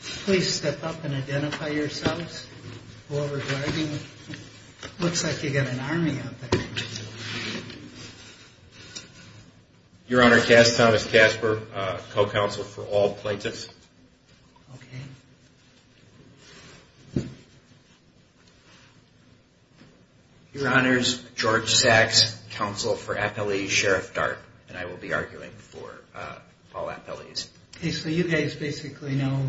Please step up and identify yourselves. Looks like you've got an army out there. Your Honor, Thomas Casper, co-counsel for all plaintiffs. Okay. Your Honors, George Sachs, counsel for appellees, Sheriff Dart, and I will be arguing for all appellees. Okay, so you guys basically know,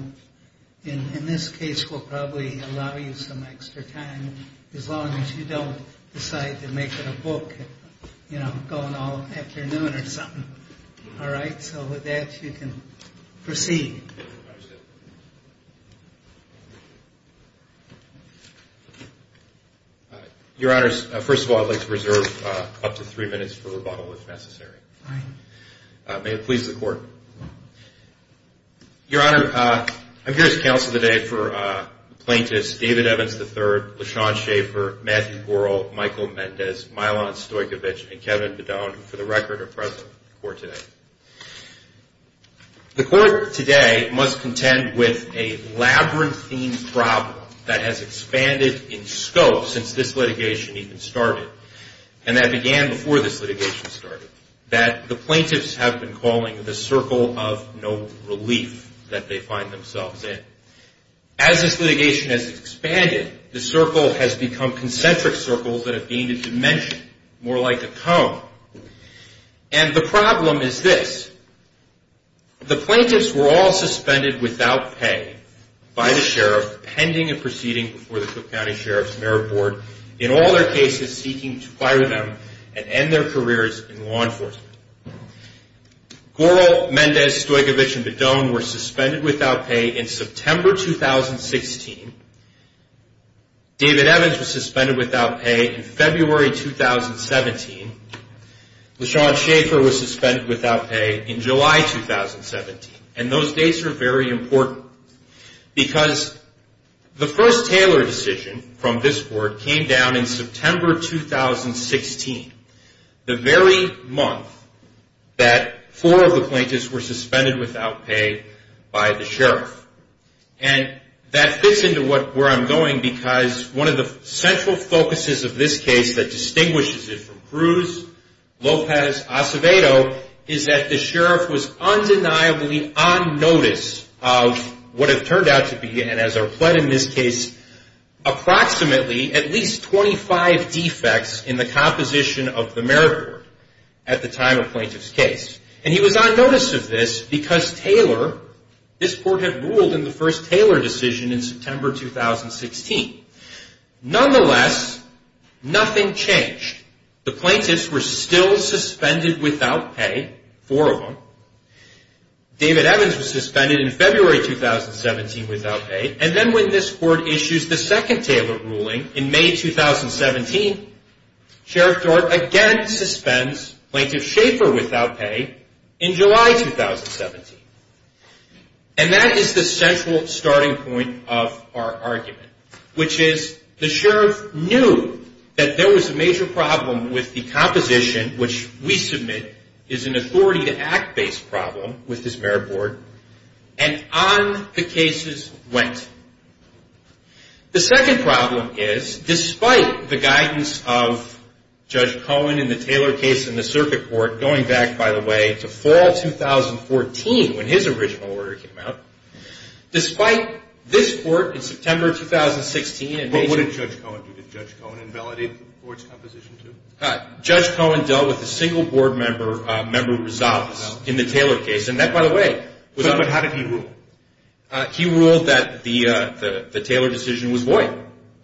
in this case, we'll probably allow you some extra time as long as you don't decide to make it a book, you know, going all afternoon or something. All right, so with that, you can proceed. Your Honors, first of all, I'd like to reserve up to three minutes for rebuttal if necessary. Fine. May it please the Court. Your Honor, I'm here as counsel today for the plaintiffs David Evans III, LaShawn Shaffer, Matthew Goral, Michael Mendez, Milan Stojkovic, and Kevin Bedone, who for the record are present in court today. The court today must contend with a labyrinthine problem that has expanded in scope since this litigation even started, and that began before this litigation started, that the plaintiffs have been calling the circle of no relief that they find themselves in. As this litigation has expanded, the circle has become concentric circles that have gained a dimension, more like a cone. And the problem is this. The plaintiffs were all suspended without pay by the sheriff pending a proceeding before the Cook County Sheriff's Merit Board in all their cases seeking to fire them and end their careers in law enforcement. Goral, Mendez, Stojkovic, and Bedone were suspended without pay in September 2016. David Evans was suspended without pay in February 2017. LaShawn Shaffer was suspended without pay in July 2017. And those dates are very important because the first Taylor decision from this court came down in September 2016, the very month that four of the plaintiffs were suspended without pay by the sheriff. And that fits into where I'm going because one of the central focuses of this case that distinguishes it from Cruz, Lopez, Acevedo, is that the sheriff was undeniably on notice of what had turned out to be, and as our plot in this case, approximately at least 25 defects in the composition of the merit board at the time of plaintiff's case. And he was on notice of this because Taylor, this court had ruled in the first Taylor decision in September 2016. Nonetheless, nothing changed. The plaintiffs were still suspended without pay, four of them. David Evans was suspended in February 2017 without pay. And then when this court issues the second Taylor ruling in May 2017, Sheriff Dort again suspends plaintiff Shaffer without pay in July 2017. And that is the central starting point of our argument, which is the sheriff knew that there was a major problem with the composition, which we submit is an authority-to-act-based problem with this merit board, and on the cases went. The second problem is, despite the guidance of Judge Cohen in the Taylor case in the circuit court, going back, by the way, to fall 2014 when his original order came out, despite this court in September 2016. What did Judge Cohen do? Did Judge Cohen invalidate the board's composition too? Judge Cohen dealt with a single board member, member Rosales, in the Taylor case. And that, by the way. But how did he rule? He ruled that the Taylor decision was void,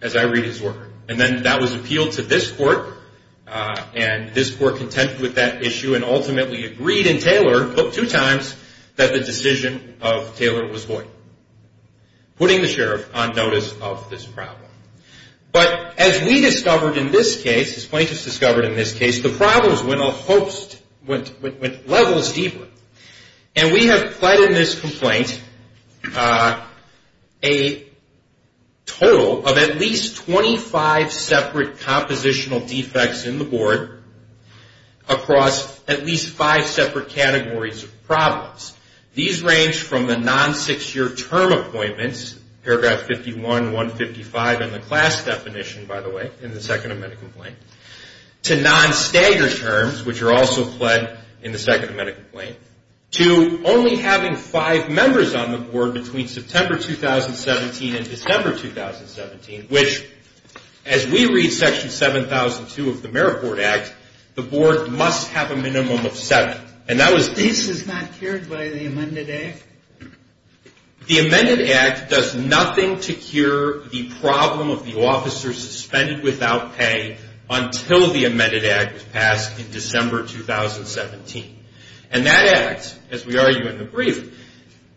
as I read his work. And then that was appealed to this court, and this court contended with that issue and ultimately agreed in Taylor, but two times, that the decision of Taylor was void, putting the sheriff on notice of this problem. But as we discovered in this case, as plaintiffs discovered in this case, the problems went a host, went levels deeper. And we have pled in this complaint a total of at least 25 separate compositional defects in the board across at least five separate categories of problems. These range from the non-six-year term appointments, paragraph 51, 155 in the class definition, by the way, in the Second Amendment complaint, to non-staggered terms, which are also pled in the Second Amendment complaint, to only having five members on the board between September 2017 and December 2017, which, as we read section 7002 of the Marriott Board Act, the board must have a minimum of seven. And that was... This is not cured by the amended act? The amended act does nothing to cure the problem of the officer suspended without pay until the amended act was passed in December 2017. And that act, as we argue in the brief,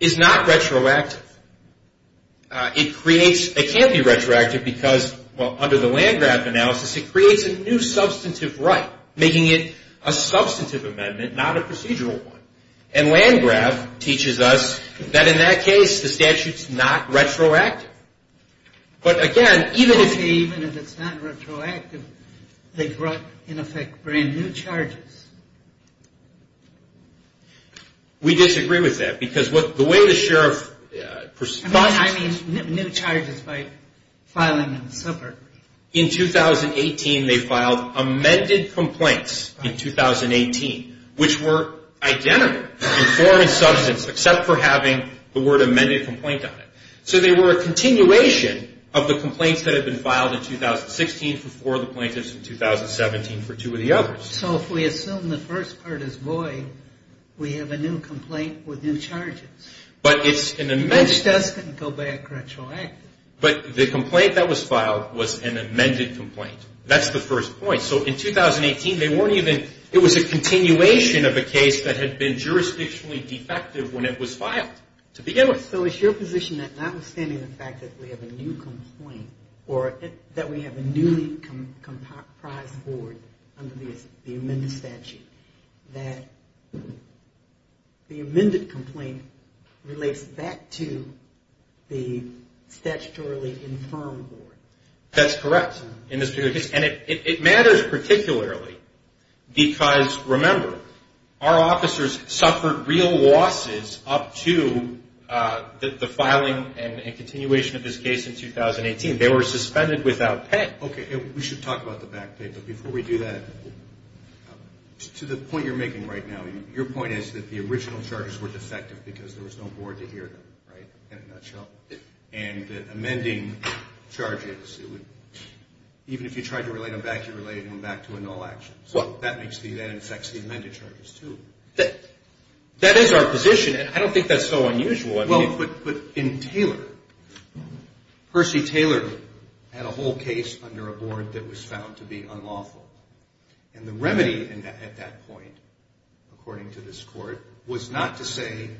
is not retroactive. It creates... it can't be retroactive because, well, under the Landgraf analysis, it creates a new substantive right, making it a substantive amendment, not a procedural one. And Landgraf teaches us that, in that case, the statute's not retroactive. But, again, even if... Even if it's not retroactive, they brought, in effect, brand-new charges. We disagree with that because the way the sheriff... I mean new charges by filing in the suburb. In 2018, they filed amended complaints in 2018, which were identical in form and substance, except for having the word amended complaint on it. So they were a continuation of the complaints that had been filed in 2016 for four of the plaintiffs and 2017 for two of the others. So if we assume the first part is void, we have a new complaint with new charges. But it's an amended... Which doesn't go by a retroactive. But the complaint that was filed was an amended complaint. That's the first point. So in 2018, they weren't even... It was a continuation of a case that had been jurisdictionally defective when it was filed to begin with. So it's your position that, notwithstanding the fact that we have a new complaint or that we have a newly comprised board under the amended statute, that the amended complaint relates back to the statutorily infirmed board? That's correct. And it matters particularly because, remember, our officers suffered real losses up to the filing and continuation of this case in 2018. They were suspended without pay. Okay. We should talk about the back pay. But before we do that, to the point you're making right now, your point is that the original charges were defective because there was no board to hear them, right, in a nutshell. And amending charges, even if you tried to relate them back, you related them back to a null action. So that makes the... that infects the amended charges, too. That is our position. I don't think that's so unusual. Well, but in Taylor, Percy Taylor had a whole case under a board that was found to be unlawful. And the remedy at that point, according to this court, was not to say,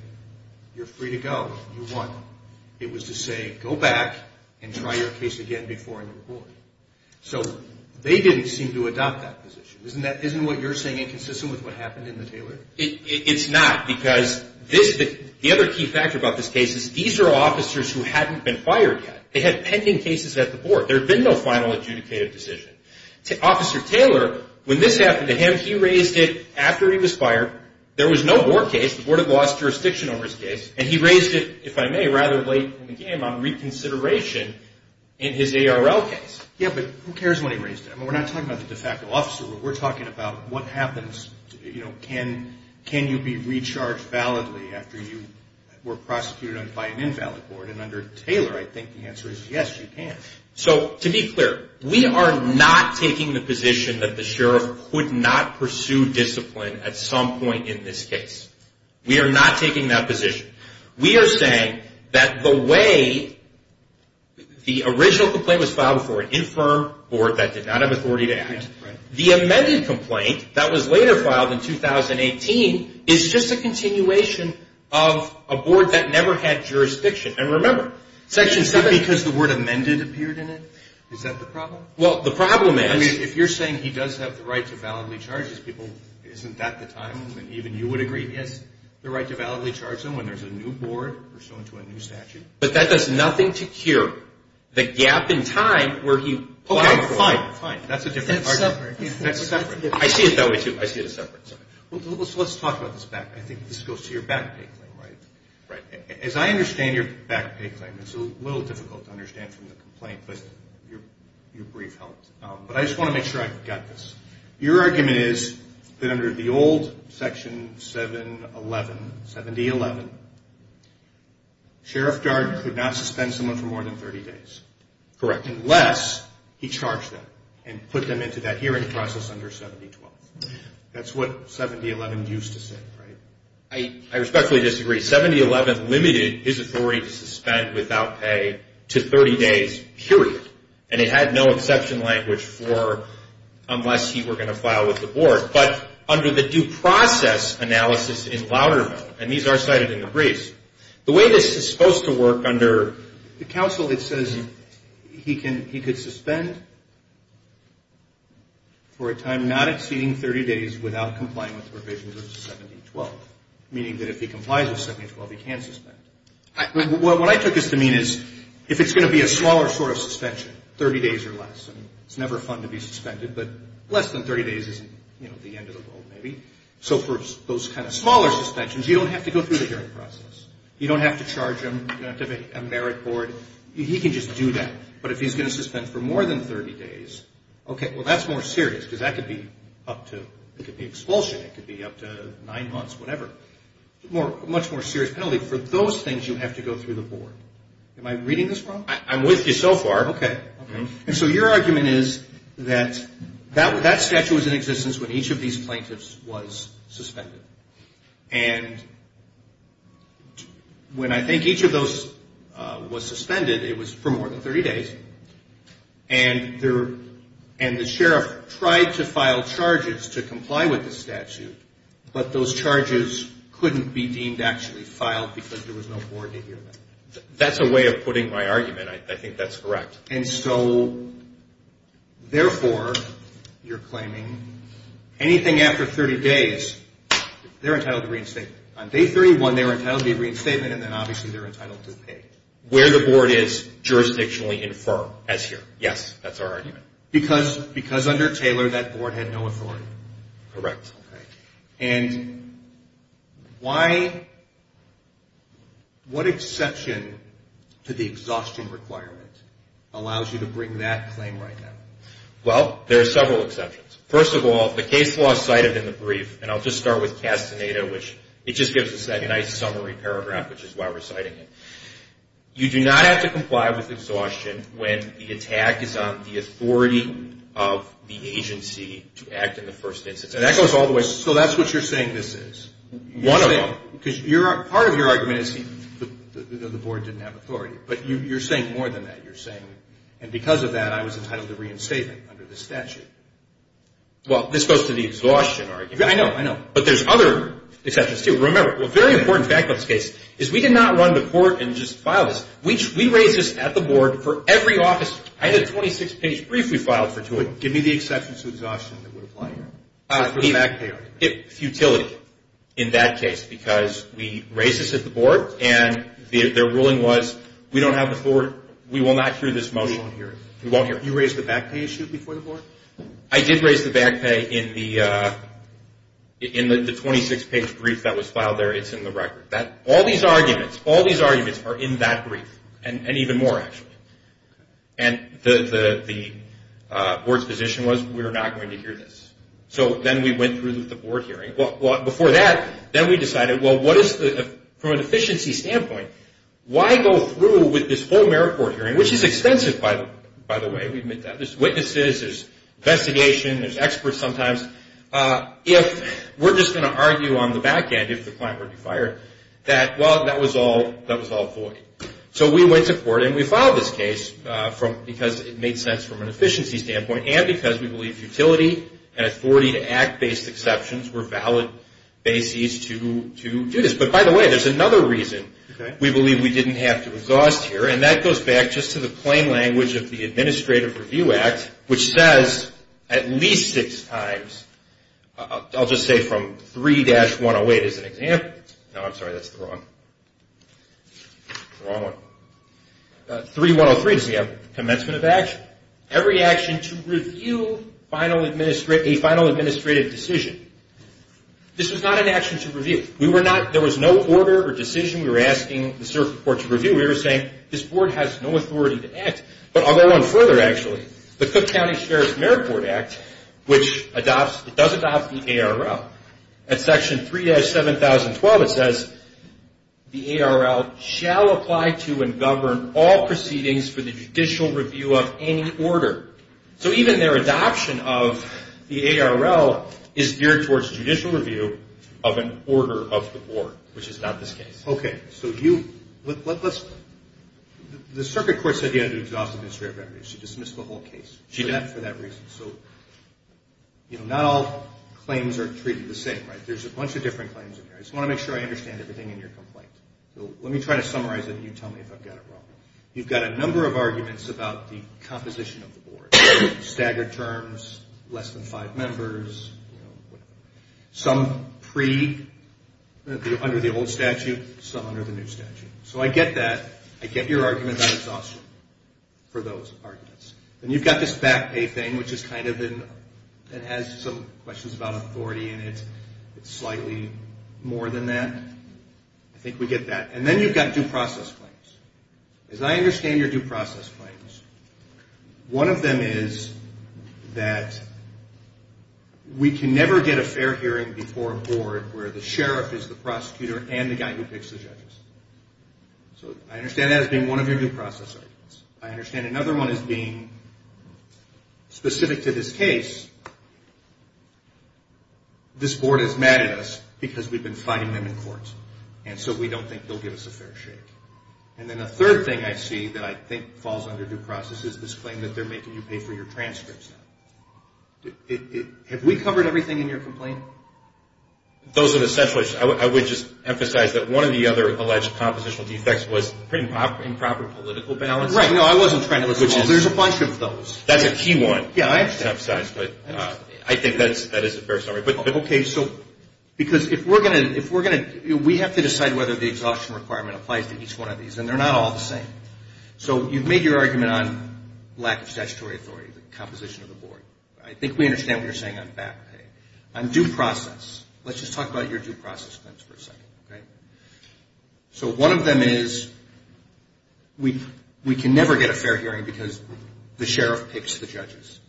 you're free to go, you won. It was to say, go back and try your case again before a new board. So they didn't seem to adopt that position. Isn't what you're saying inconsistent with what happened in the Taylor? It's not, because the other key factor about this case is these are officers who hadn't been fired yet. They had pending cases at the board. There had been no final adjudicated decision. Officer Taylor, when this happened to him, he raised it after he was fired. There was no board case. The board had lost jurisdiction over his case. And he raised it, if I may, rather late in the game on reconsideration in his ARL case. Yeah, but who cares when he raised it? I mean, we're not talking about the de facto officer. We're talking about what happens, you know, can you be recharged validly after you were prosecuted by an invalid board? And under Taylor, I think the answer is yes, you can. So, to be clear, we are not taking the position that the sheriff would not pursue discipline at some point in this case. We are not taking that position. We are saying that the way the original complaint was filed before an infirm board that did not have authority to act, the amended complaint that was later filed in 2018 is just a continuation of a board that never had jurisdiction. And remember, Section 7. Is it because the word amended appeared in it? Is that the problem? Well, the problem is. I mean, if you're saying he does have the right to validly charge his people, isn't that the time? Even you would agree he has the right to validly charge them when there's a new board or someone to a new statute. But that does nothing to cure the gap in time where he. Okay, fine, fine. That's a different argument. That's separate. That's separate. I see it that way, too. I see it as separate. Let's talk about this back. I think this goes to your back pay claim, right? Right. As I understand your back pay claim, it's a little difficult to understand from the complaint, but your brief helped. But I just want to make sure I got this. Your argument is that under the old Section 7.11, 7D.11, Sheriff Darden could not suspend someone for more than 30 days. Correct. Unless he charged them and put them into that hearing process under 7D.12. That's what 7D.11 used to say, right? I respectfully disagree. 7D.11 limited his authority to suspend without pay to 30 days, period. And it had no exception language for unless he were going to file with the board. But under the due process analysis in Loudermill, and these are cited in the briefs, the way this is supposed to work under the counsel, it says he could suspend for a time not exceeding 30 days without complying with provisions of 7D.12. Meaning that if he complies with 7D.12, he can suspend. What I took this to mean is if it's going to be a smaller sort of suspension, 30 days or less, it's never fun to be suspended, but less than 30 days isn't the end of the world, maybe. So for those kind of smaller suspensions, you don't have to go through the hearing process. You don't have to charge him. You don't have to have a merit board. He can just do that. But if he's going to suspend for more than 30 days, okay, well, that's more serious because that could be up to, it could be expulsion. It could be up to nine months, whatever. Much more serious penalty. For those things, you have to go through the board. Am I reading this wrong? I'm with you so far. Okay. And so your argument is that that statute was in existence when each of these plaintiffs was suspended. And when I think each of those was suspended, it was for more than 30 days, and the sheriff tried to file charges to comply with the statute, but those charges couldn't be deemed actually filed because there was no board to hear them. That's a way of putting my argument. I think that's correct. And so, therefore, you're claiming anything after 30 days, they're entitled to reinstatement. On day 31, they're entitled to a reinstatement, and then obviously they're entitled to pay. Where the board is jurisdictionally infirm as here. Yes, that's our argument. Because under Taylor, that board had no authority. Correct. Okay. And what exception to the exhaustion requirement allows you to bring that claim right now? Well, there are several exceptions. First of all, the case law is cited in the brief, and I'll just start with Castaneda, which it just gives us that nice summary paragraph, which is why we're citing it. You do not have to comply with exhaustion when the attack is on the authority of the agency to act in the first instance. So that goes all the way. So that's what you're saying this is? One of them. Because part of your argument is the board didn't have authority. But you're saying more than that. You're saying, and because of that, I was entitled to reinstatement under the statute. Well, this goes to the exhaustion argument. I know, I know. But there's other exceptions, too. Remember, a very important fact about this case is we did not run to court and just file this. We raised this at the board for every office. I had a 26-page brief we filed for two of them. Give me the exceptions to exhaustion that would apply here. Futility in that case because we raised this at the board, and their ruling was we don't have the forward. We will not hear this motion. We won't hear it. You raised the back pay issue before the board? I did raise the back pay in the 26-page brief that was filed there. It's in the record. All these arguments, all these arguments are in that brief, and even more, actually. And the board's position was we are not going to hear this. So then we went through with the board hearing. Before that, then we decided, well, what is the, from an efficiency standpoint, why go through with this whole merit court hearing, which is expensive, by the way. We admit that. There's witnesses. There's investigation. There's experts sometimes. If we're just going to argue on the back end, if the client were to be fired, that, well, that was all void. So we went to court, and we filed this case because it made sense from an efficiency standpoint and because we believe futility and authority to act-based exceptions were valid bases to do this. But, by the way, there's another reason we believe we didn't have to exhaust here, and that goes back just to the plain language of the Administrative Review Act, which says at least six times, I'll just say from 3-108 as an example. No, I'm sorry. That's the wrong one. 3-103 is the commencement of action. Every action to review a final administrative decision. This was not an action to review. We were not, there was no order or decision we were asking the circuit court to review. We were saying this board has no authority to act. But I'll go on further, actually. The Cook County Sheriff's Merit Court Act, which adopts, it does adopt the ARL. At Section 3-7012, it says the ARL shall apply to and govern all proceedings for the judicial review of any order. So even their adoption of the ARL is geared towards judicial review of an order of the board, which is not this case. Okay. So you, let's, the circuit court said you had to exhaust administrative remedies. She dismissed the whole case for that reason. So, you know, not all claims are treated the same, right? There's a bunch of different claims in there. I just want to make sure I understand everything in your complaint. So let me try to summarize it, and you tell me if I've got it wrong. You've got a number of arguments about the composition of the board. Staggered terms, less than five members, you know, whatever. Some pre, under the old statute, some under the new statute. So I get that. I get your argument about exhaustion for those arguments. And you've got this back pay thing, which is kind of in, it has some questions about authority in it. It's slightly more than that. I think we get that. And then you've got due process claims. As I understand your due process claims, one of them is that we can never get a fair hearing before a board where the sheriff is the prosecutor and the guy who picks the judges. So I understand that as being one of your due process arguments. I understand another one as being specific to this case. This board is mad at us because we've been fighting them in court, and so we don't think they'll give us a fair shake. And then the third thing I see that I think falls under due process is this claim that they're making you pay for your transcripts. Have we covered everything in your complaint? Those are the central issues. I would just emphasize that one of the other alleged compositional defects was improper political balance. Right. No, I wasn't trying to listen at all. There's a bunch of those. That's a key one. Yeah, I understand. I think that is a fair summary. Okay, so because if we're going to, we have to decide whether the exhaustion requirement applies to each one of these, and they're not all the same. So you've made your argument on lack of statutory authority, the composition of the board. I think we understand what you're saying on back pay. On due process, let's just talk about your due process claims for a second. Okay. So one of them is we can never get a fair hearing because the sheriff picks the judges.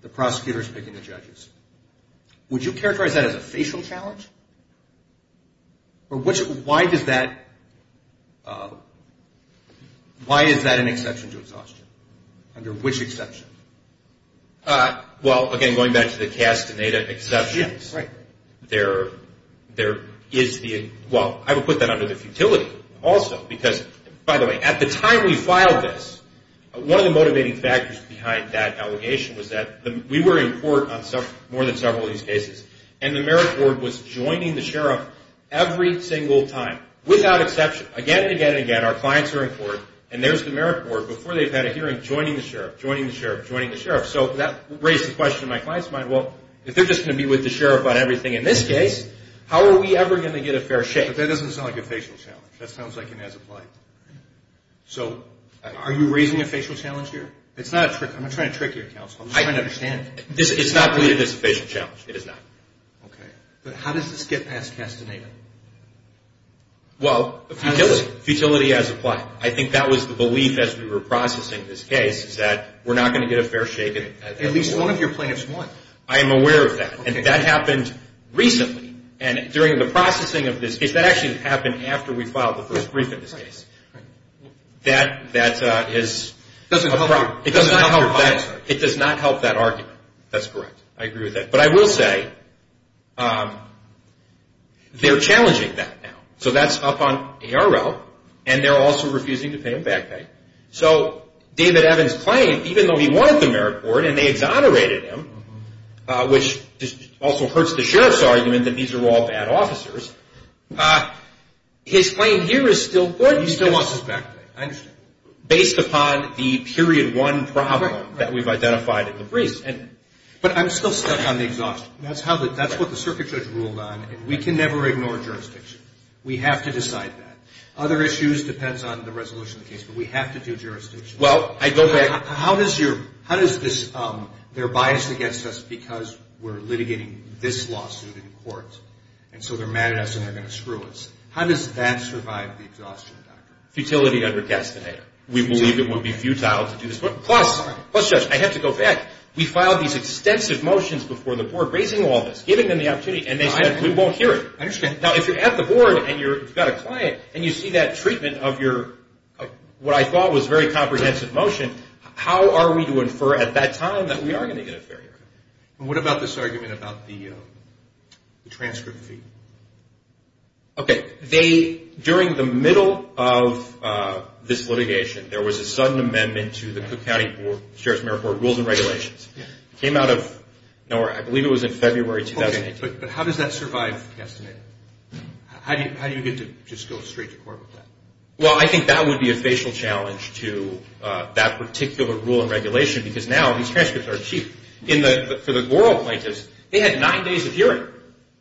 The prosecutor is picking the judges. Would you characterize that as a facial challenge? Or why does that, why is that an exception to exhaustion? Under which exception? Well, again, going back to the Castaneda exceptions. Yeah, right. There is the, well, I would put that under the futility also because, by the way, at the time we filed this, one of the motivating factors behind that allegation was that we were in court on more than several of these cases, and the merit board was joining the sheriff every single time without exception. Again and again and again, our clients are in court, and there's the merit board before they've had a hearing joining the sheriff, joining the sheriff, joining the sheriff. So that raised the question in my client's mind, well, if they're just going to be with the sheriff on everything in this case, how are we ever going to get a fair shake? But that doesn't sound like a facial challenge. That sounds like an as-applied. So are you raising a facial challenge here? It's not a trick. I'm not trying to trick you, counsel. I'm just trying to understand. It's not really a facial challenge. It is not. Okay. But how does this get past Castaneda? Well, futility. Futility as applied. I think that was the belief as we were processing this case is that we're not going to get a fair shake. At least one of your plaintiffs won. I am aware of that. And that happened recently. And during the processing of this case, that actually happened after we filed the first brief in this case. That is a problem. It doesn't help your clients. It does not help that argument. That's correct. I agree with that. But I will say they're challenging that now. So that's up on ARL, and they're also refusing to pay them back. So David Evans' claim, even though he won at the merit court and they exonerated him, which also hurts the sheriff's argument that these are all bad officers, his claim here is still good. He still wants his back pay. I understand. Based upon the period one problem that we've identified in the briefs. But I'm still stuck on the exhaustion. That's what the circuit judge ruled on, and we can never ignore jurisdiction. We have to decide that. Other issues depends on the resolution of the case, but we have to do jurisdiction. Well, I go back. How does this, they're biased against us because we're litigating this lawsuit in court, and so they're mad at us and they're going to screw us. How does that survive the exhaustion, Doctor? Futility under destiny. We believe it would be futile to do this. Plus, Judge, I have to go back. We filed these extensive motions before the board raising all this, giving them the opportunity, and they said we won't hear it. I understand. Now, if you're at the board and you've got a client and you see that treatment of your, what I thought was very comprehensive motion, how are we to infer at that time that we are going to get a fair hearing? What about this argument about the transcript fee? Okay. They, during the middle of this litigation, there was a sudden amendment to the Cook County Sheriff's and Mayor's Board Rules and Regulations. It came out of nowhere. I believe it was in February 2018. But how does that survive the estimate? How do you get to just go straight to court with that? Well, I think that would be a facial challenge to that particular rule and regulation because now these transcripts are cheap. For the oral plaintiffs, they had nine days of hearing,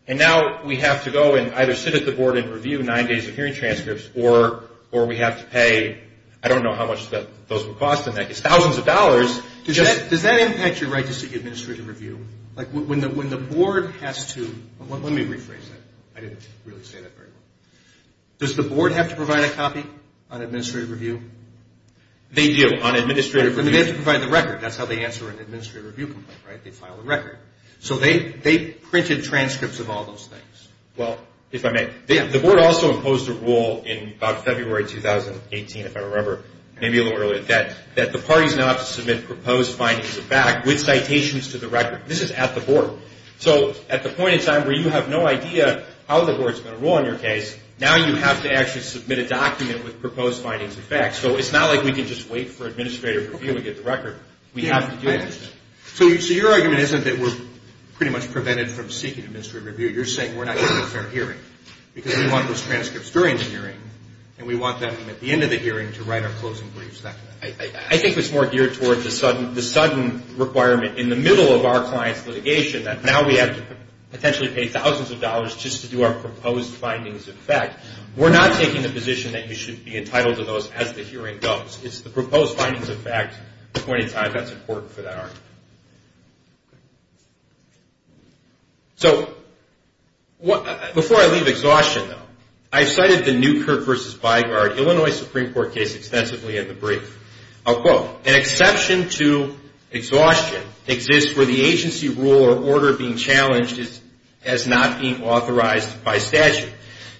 and now we have to go and either sit at the board and review nine days of hearing transcripts or we have to pay, I don't know how much those would cost, thousands of dollars. Does that impact your right to seek administrative review? When the board has to, let me rephrase that. I didn't really say that very well. Does the board have to provide a copy on administrative review? They do on administrative review. They have to provide the record. That's how they answer an administrative review complaint, right? They file a record. So they printed transcripts of all those things. Well, if I may, the board also imposed a rule in about February 2018, if I remember, maybe a little earlier, that the parties now have to submit proposed findings of fact with citations to the record. This is at the board. So at the point in time where you have no idea how the board is going to rule on your case, now you have to actually submit a document with proposed findings of fact. So it's not like we can just wait for administrative review and get the record. We have to do that. So your argument isn't that we're pretty much prevented from seeking administrative review. You're saying we're not getting a fair hearing because we want those transcripts during the hearing and we want them at the end of the hearing to write our closing briefs. I think it's more geared towards the sudden requirement in the middle of our client's litigation that now we have to potentially pay thousands of dollars just to do our proposed findings of fact. We're not taking the position that you should be entitled to those as the hearing goes. It's the proposed findings of fact at the point in time that's important for that argument. So before I leave exhaustion, though, I've cited the Newkirk v. Bygard, Illinois Supreme Court case extensively in the brief. I'll quote, An exception to exhaustion exists where the agency rule or order being challenged is not being authorized by statute.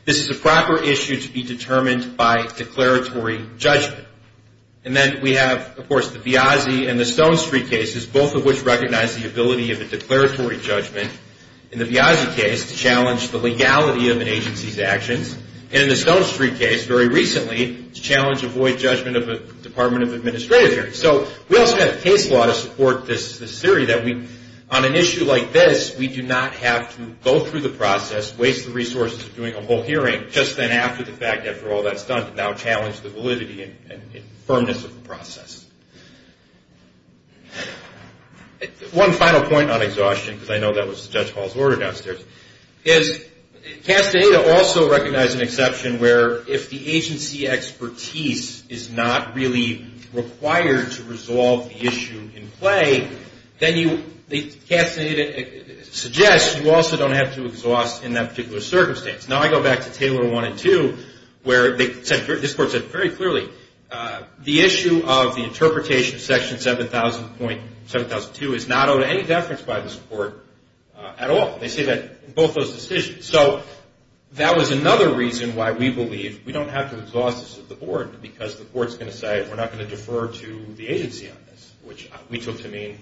This is a proper issue to be determined by declaratory judgment. And then we have, of course, the Viazzi and the Stone Street cases, both of which recognize the ability of a declaratory judgment in the Viazzi case to challenge the legality of an agency's actions, and in the Stone Street case, very recently, to challenge avoid judgment of a Department of Administrative hearings. So we also have case law to support this theory that on an issue like this, we do not have to go through the process, waste the resources of doing a whole hearing, just then after the fact, after all that's done, to now challenge the validity and firmness of the process. One final point on exhaustion, because I know that was Judge Hall's order downstairs, is CASTA-ADA also recognized an exception where if the agency expertise is not really required to resolve the issue in play, then CASTA-ADA suggests you also don't have to exhaust in that particular circumstance. Now I go back to Table 1 and 2 where this Court said very clearly the issue of the interpretation of Section 7000.7002 is not owed any deference by this Court at all. They say that in both those decisions. So that was another reason why we believe we don't have to exhaust this at the Board, because the Court's going to say we're not going to defer to the agency on this, which we took to mean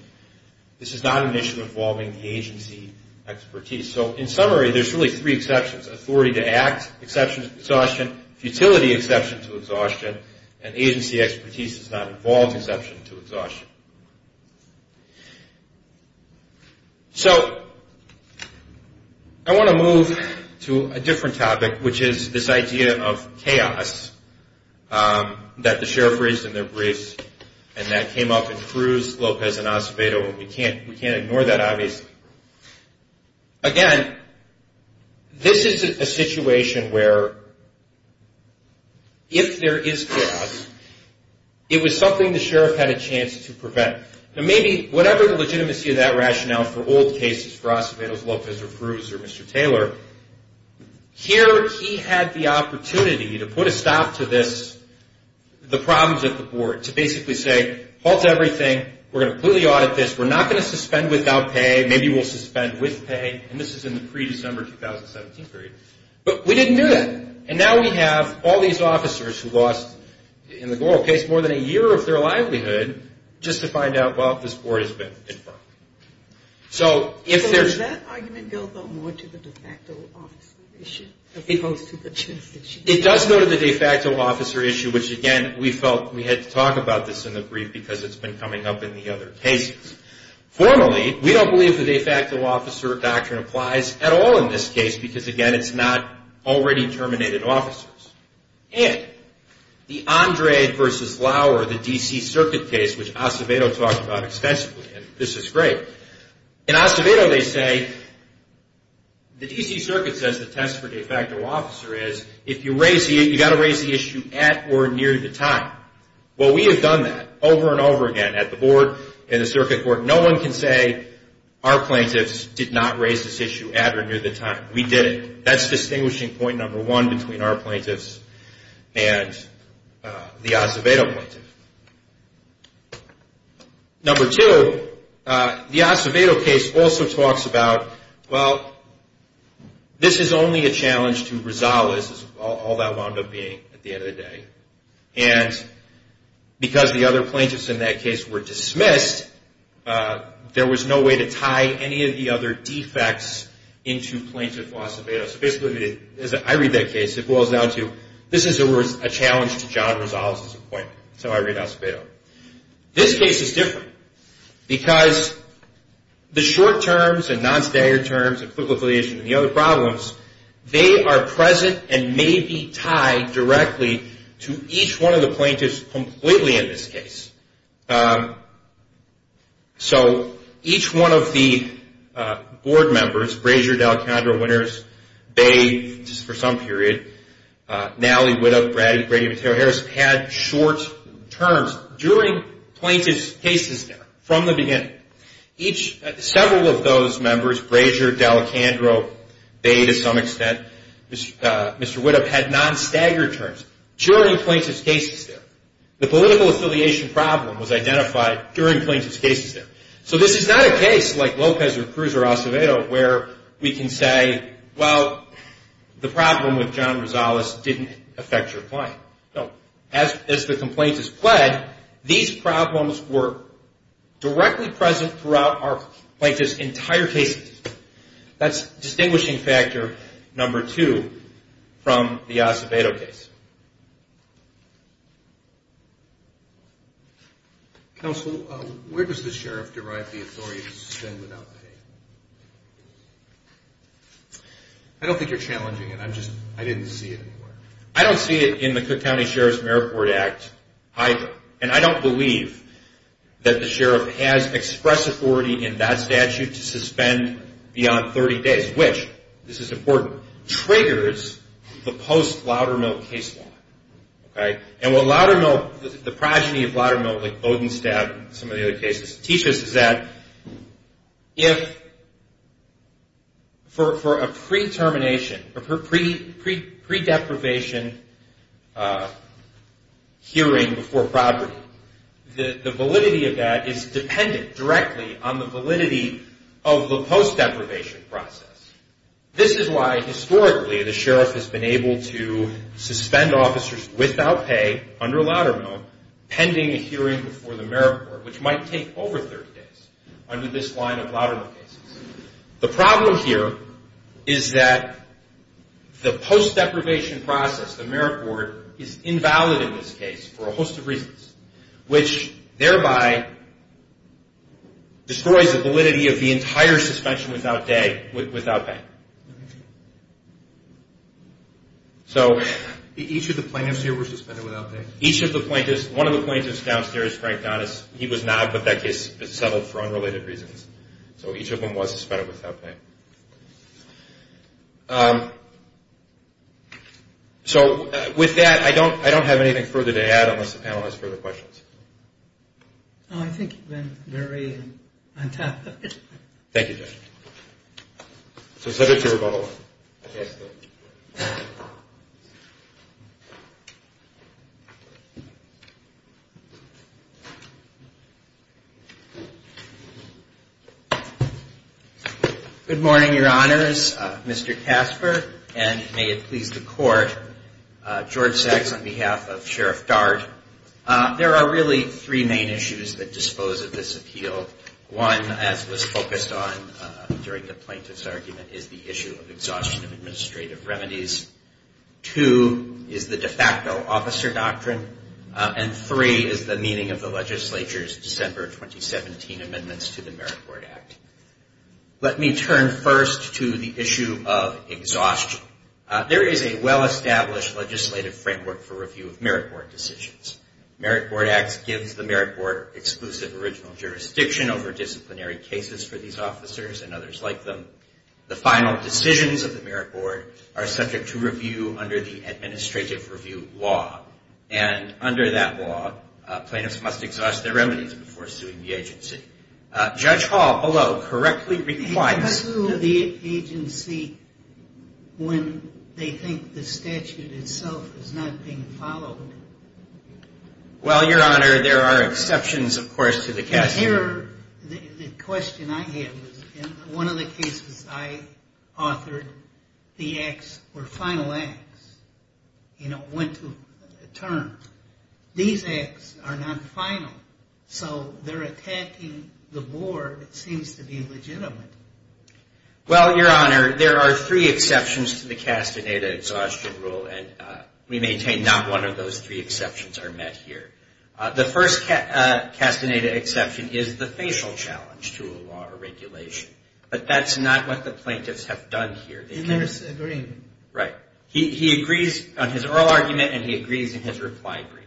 this is not an issue involving the agency expertise. So in summary, there's really three exceptions, authority to act, exception to exhaustion, futility exception to exhaustion, and agency expertise does not involve exception to exhaustion. So I want to move to a different topic, which is this idea of chaos that the Sheriff raised in their briefs, and that came up in Cruz, Lopez, and Acevedo. We can't ignore that, obviously. Again, this is a situation where if there is chaos, it was something the Sheriff had a chance to prevent. Now maybe whatever the legitimacy of that rationale for old cases, for Acevedo, Lopez, or Cruz, or Mr. Taylor, here he had the opportunity to put a stop to this, the problems at the Board, to basically say, halt everything, we're going to completely audit this, we're not going to suspend without pay, maybe we'll suspend with pay, and this is in the pre-December 2017 period. But we didn't do that. And now we have all these officers who lost, in the Goral case, more than a year of their livelihood just to find out, well, this Board has been confirmed. So if there's... So does that argument go, though, more to the de facto officer issue, as opposed to the chance that she... It does go to the de facto officer issue, which, again, we felt we had to talk about this in the brief because it's been coming up in the other cases. Formally, we don't believe the de facto officer doctrine applies at all in this case because, again, it's not already terminated officers. And the Andre versus Lauer, the D.C. Circuit case, which Acevedo talked about extensively, and this is great, in Acevedo they say, the D.C. Circuit says the test for de facto officer is, if you raise... You've got to raise the issue at or near the time. Well, we have done that over and over again at the Board and the Circuit Court. No one can say our plaintiffs did not raise this issue at or near the time. We did it. That's distinguishing point number one between our plaintiffs and the Acevedo plaintiff. Number two, the Acevedo case also talks about, well, this is only a challenge to Rosales, all that wound up being at the end of the day, and because the other plaintiffs in that case were dismissed, there was no way to tie any of the other defects into plaintiff Acevedo. So basically, as I read that case, it boils down to, this is a challenge to John Rosales' appointment. That's how I read Acevedo. This case is different because the short terms and non-staggered terms and political affiliation and the other problems, they are present and may be tied directly to each one of the plaintiffs completely in this case. So each one of the Board members, Brazier, D'Alecandro, Winters, Bay, just for some period, Nally, Widow, Brady, Mateo, Harris, had short terms during plaintiff's cases there from the beginning. Several of those members, Brazier, D'Alecandro, Bay to some extent, Mr. Widow, had non-staggered terms during plaintiff's cases there. The political affiliation problem was identified during plaintiff's cases there. So this is not a case like Lopez or Cruz or Acevedo where we can say, well, the problem with John Rosales didn't affect your client. As the complaint is fled, these problems were directly present throughout our plaintiff's entire cases. That's distinguishing factor number two from the Acevedo case. Counsel, where does the sheriff derive the authority to spend without pay? I don't think you're challenging it. I'm just, I didn't see it anywhere. I don't see it in the Cook County Sheriff's Merit Board Act either. And I don't believe that the sheriff has express authority in that statute to suspend beyond 30 days, which, this is important, triggers the post-Loudermill case law. And what Loudermill, the progeny of Loudermill, like Bodenstab and some of the other cases, teach us is that if, for a pre-termination or pre-deprivation hearing before property, the validity of that is dependent directly on the validity of the post-deprivation process. This is why historically the sheriff has been able to suspend officers without pay under Loudermill pending a hearing before the Merit Board, which might take over 30 days under this line of Loudermill cases. The problem here is that the post-deprivation process, the Merit Board, is invalid in this case for a host of reasons, which thereby destroys the validity of the entire suspension without pay. So each of the plaintiffs here were suspended without pay? One of the plaintiffs downstairs, Frank Donnis, he was not, but that case was settled for unrelated reasons. So each of them was suspended without pay. So with that, I don't have anything further to add unless the panel has further questions. I think you've been very on-topic. Thank you, Judge. So is that it, Your Honor? Yes, sir. Good morning, Your Honors. Mr. Casper, and may it please the Court, George Sachs on behalf of Sheriff Dart. There are really three main issues that dispose of this appeal. One, as was focused on during the plaintiff's argument, is the issue of exhaustion of administrative remedies. Two is the de facto officer doctrine. And three is the meaning of the legislature's December 2017 amendments to the Merit Board Act. Let me turn first to the issue of exhaustion. There is a well-established legislative framework for review of Merit Board decisions. Merit Board Acts gives the Merit Board exclusive original jurisdiction over disciplinary cases for these officers and others like them. The final decisions of the Merit Board are subject to review under the Administrative Review Law. And under that law, plaintiffs must exhaust their remedies before suing the agency. Judge Hall, below, correctly replies to the agency when they think the statute itself is not being followed. Well, Your Honor, there are exceptions, of course, to the case. Here, the question I have is, in one of the cases I authored, the acts were final acts. You know, went to a term. These acts are not final, so they're attacking the board, it seems to be legitimate. Well, Your Honor, there are three exceptions to the Castaneda exhaustion rule, and we maintain not one of those three exceptions are met here. The first Castaneda exception is the facial challenge to a law or regulation. But that's not what the plaintiffs have done here. In their agreement. Right. He agrees on his oral argument, and he agrees in his reply brief.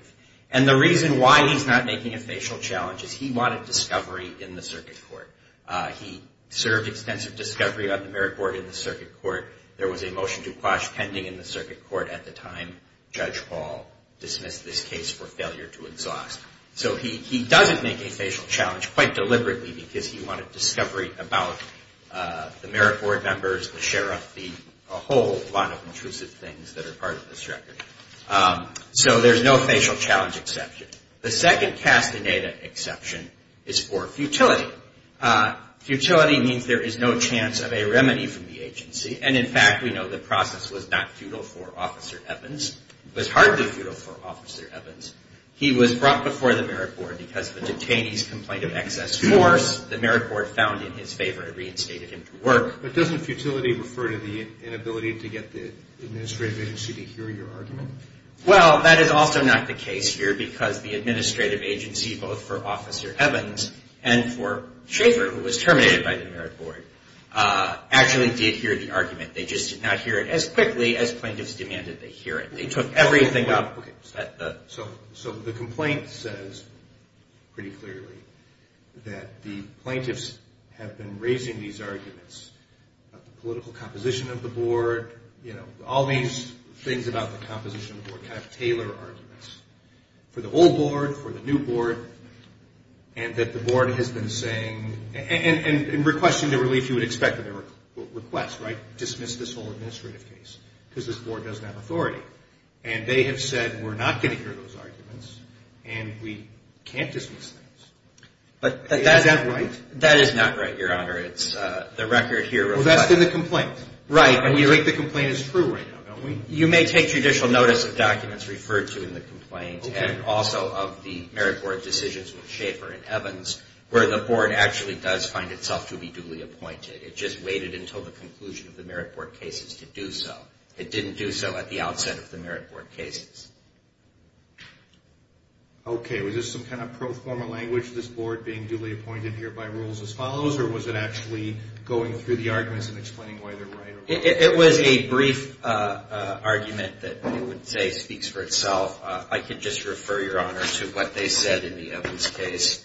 And the reason why he's not making a facial challenge is he wanted discovery in the circuit court. He served extensive discovery on the Merit Board in the circuit court. There was a motion to quash pending in the circuit court at the time Judge Hall dismissed this case for failure to exhaust. So he doesn't make a facial challenge quite deliberately because he wanted discovery about the Merit Board members, the sheriff, the whole lot of intrusive things that are part of this record. So there's no facial challenge exception. The second Castaneda exception is for futility. Futility means there is no chance of a remedy from the agency. And, in fact, we know the process was not futile for Officer Evans. It was hardly futile for Officer Evans. He was brought before the Merit Board because of a detainee's complaint of excess force. The Merit Board found in his favor and reinstated him to work. But doesn't futility refer to the inability to get the administrative agency to hear your argument? Well, that is also not the case here because the administrative agency, both for Officer Evans and for Schaefer, who was terminated by the Merit Board, actually did hear the argument. They just did not hear it as quickly as plaintiffs demanded they hear it. They took everything up. So the complaint says pretty clearly that the plaintiffs have been raising these arguments about the political composition of the board, you know, all these things about the composition of the board kind of tailor arguments for the old board, for the new board, and that the board has been saying and requesting the relief you would expect of their request, right, dismiss this whole administrative case because this board doesn't have authority. And they have said we're not going to hear those arguments and we can't dismiss things. Is that right? That is not right, Your Honor. It's the record here. Well, that's in the complaint. Right. And you think the complaint is true right now, don't we? You may take judicial notice of documents referred to in the complaint and also of the Merit Board decisions with Schaefer and Evans where the board actually does find itself to be duly appointed. It just waited until the conclusion of the Merit Board cases to do so. It didn't do so at the outset of the Merit Board cases. Okay. Was this some kind of pro forma language, this board being duly appointed here by rules as follows, or was it actually going through the arguments and explaining why they're right? It was a brief argument that I would say speaks for itself. I could just refer, Your Honor, to what they said in the Evans case.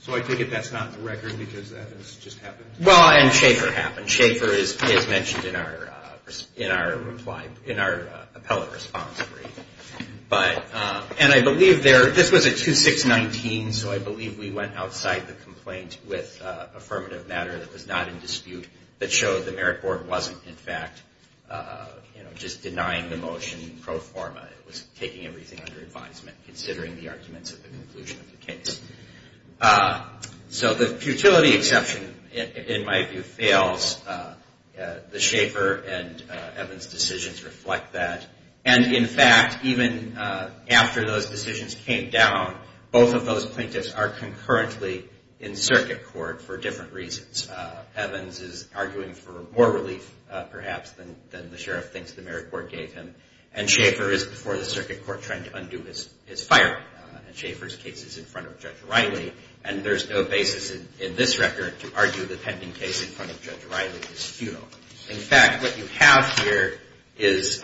So I take it that's not in the record because Evans just happened? Well, and Schaefer happened. Schaefer is mentioned in our reply, in our appellate response brief. And I believe this was a 2-6-19, so I believe we went outside the complaint with affirmative matter that was not in dispute that showed the Merit Board wasn't, in fact, just denying the motion pro forma. It was taking everything under advisement, considering the arguments at the conclusion of the case. So the futility exception, in my view, fails. The Schaefer and Evans decisions reflect that. And, in fact, even after those decisions came down, both of those plaintiffs are concurrently in circuit court for different reasons. Evans is arguing for more relief, perhaps, than the sheriff thinks the Merit Board gave him. And Schaefer is before the circuit court trying to undo his firing. And Schaefer's case is in front of Judge Riley. And there's no basis in this record to argue the pending case in front of Judge Riley is futile. In fact, what you have here is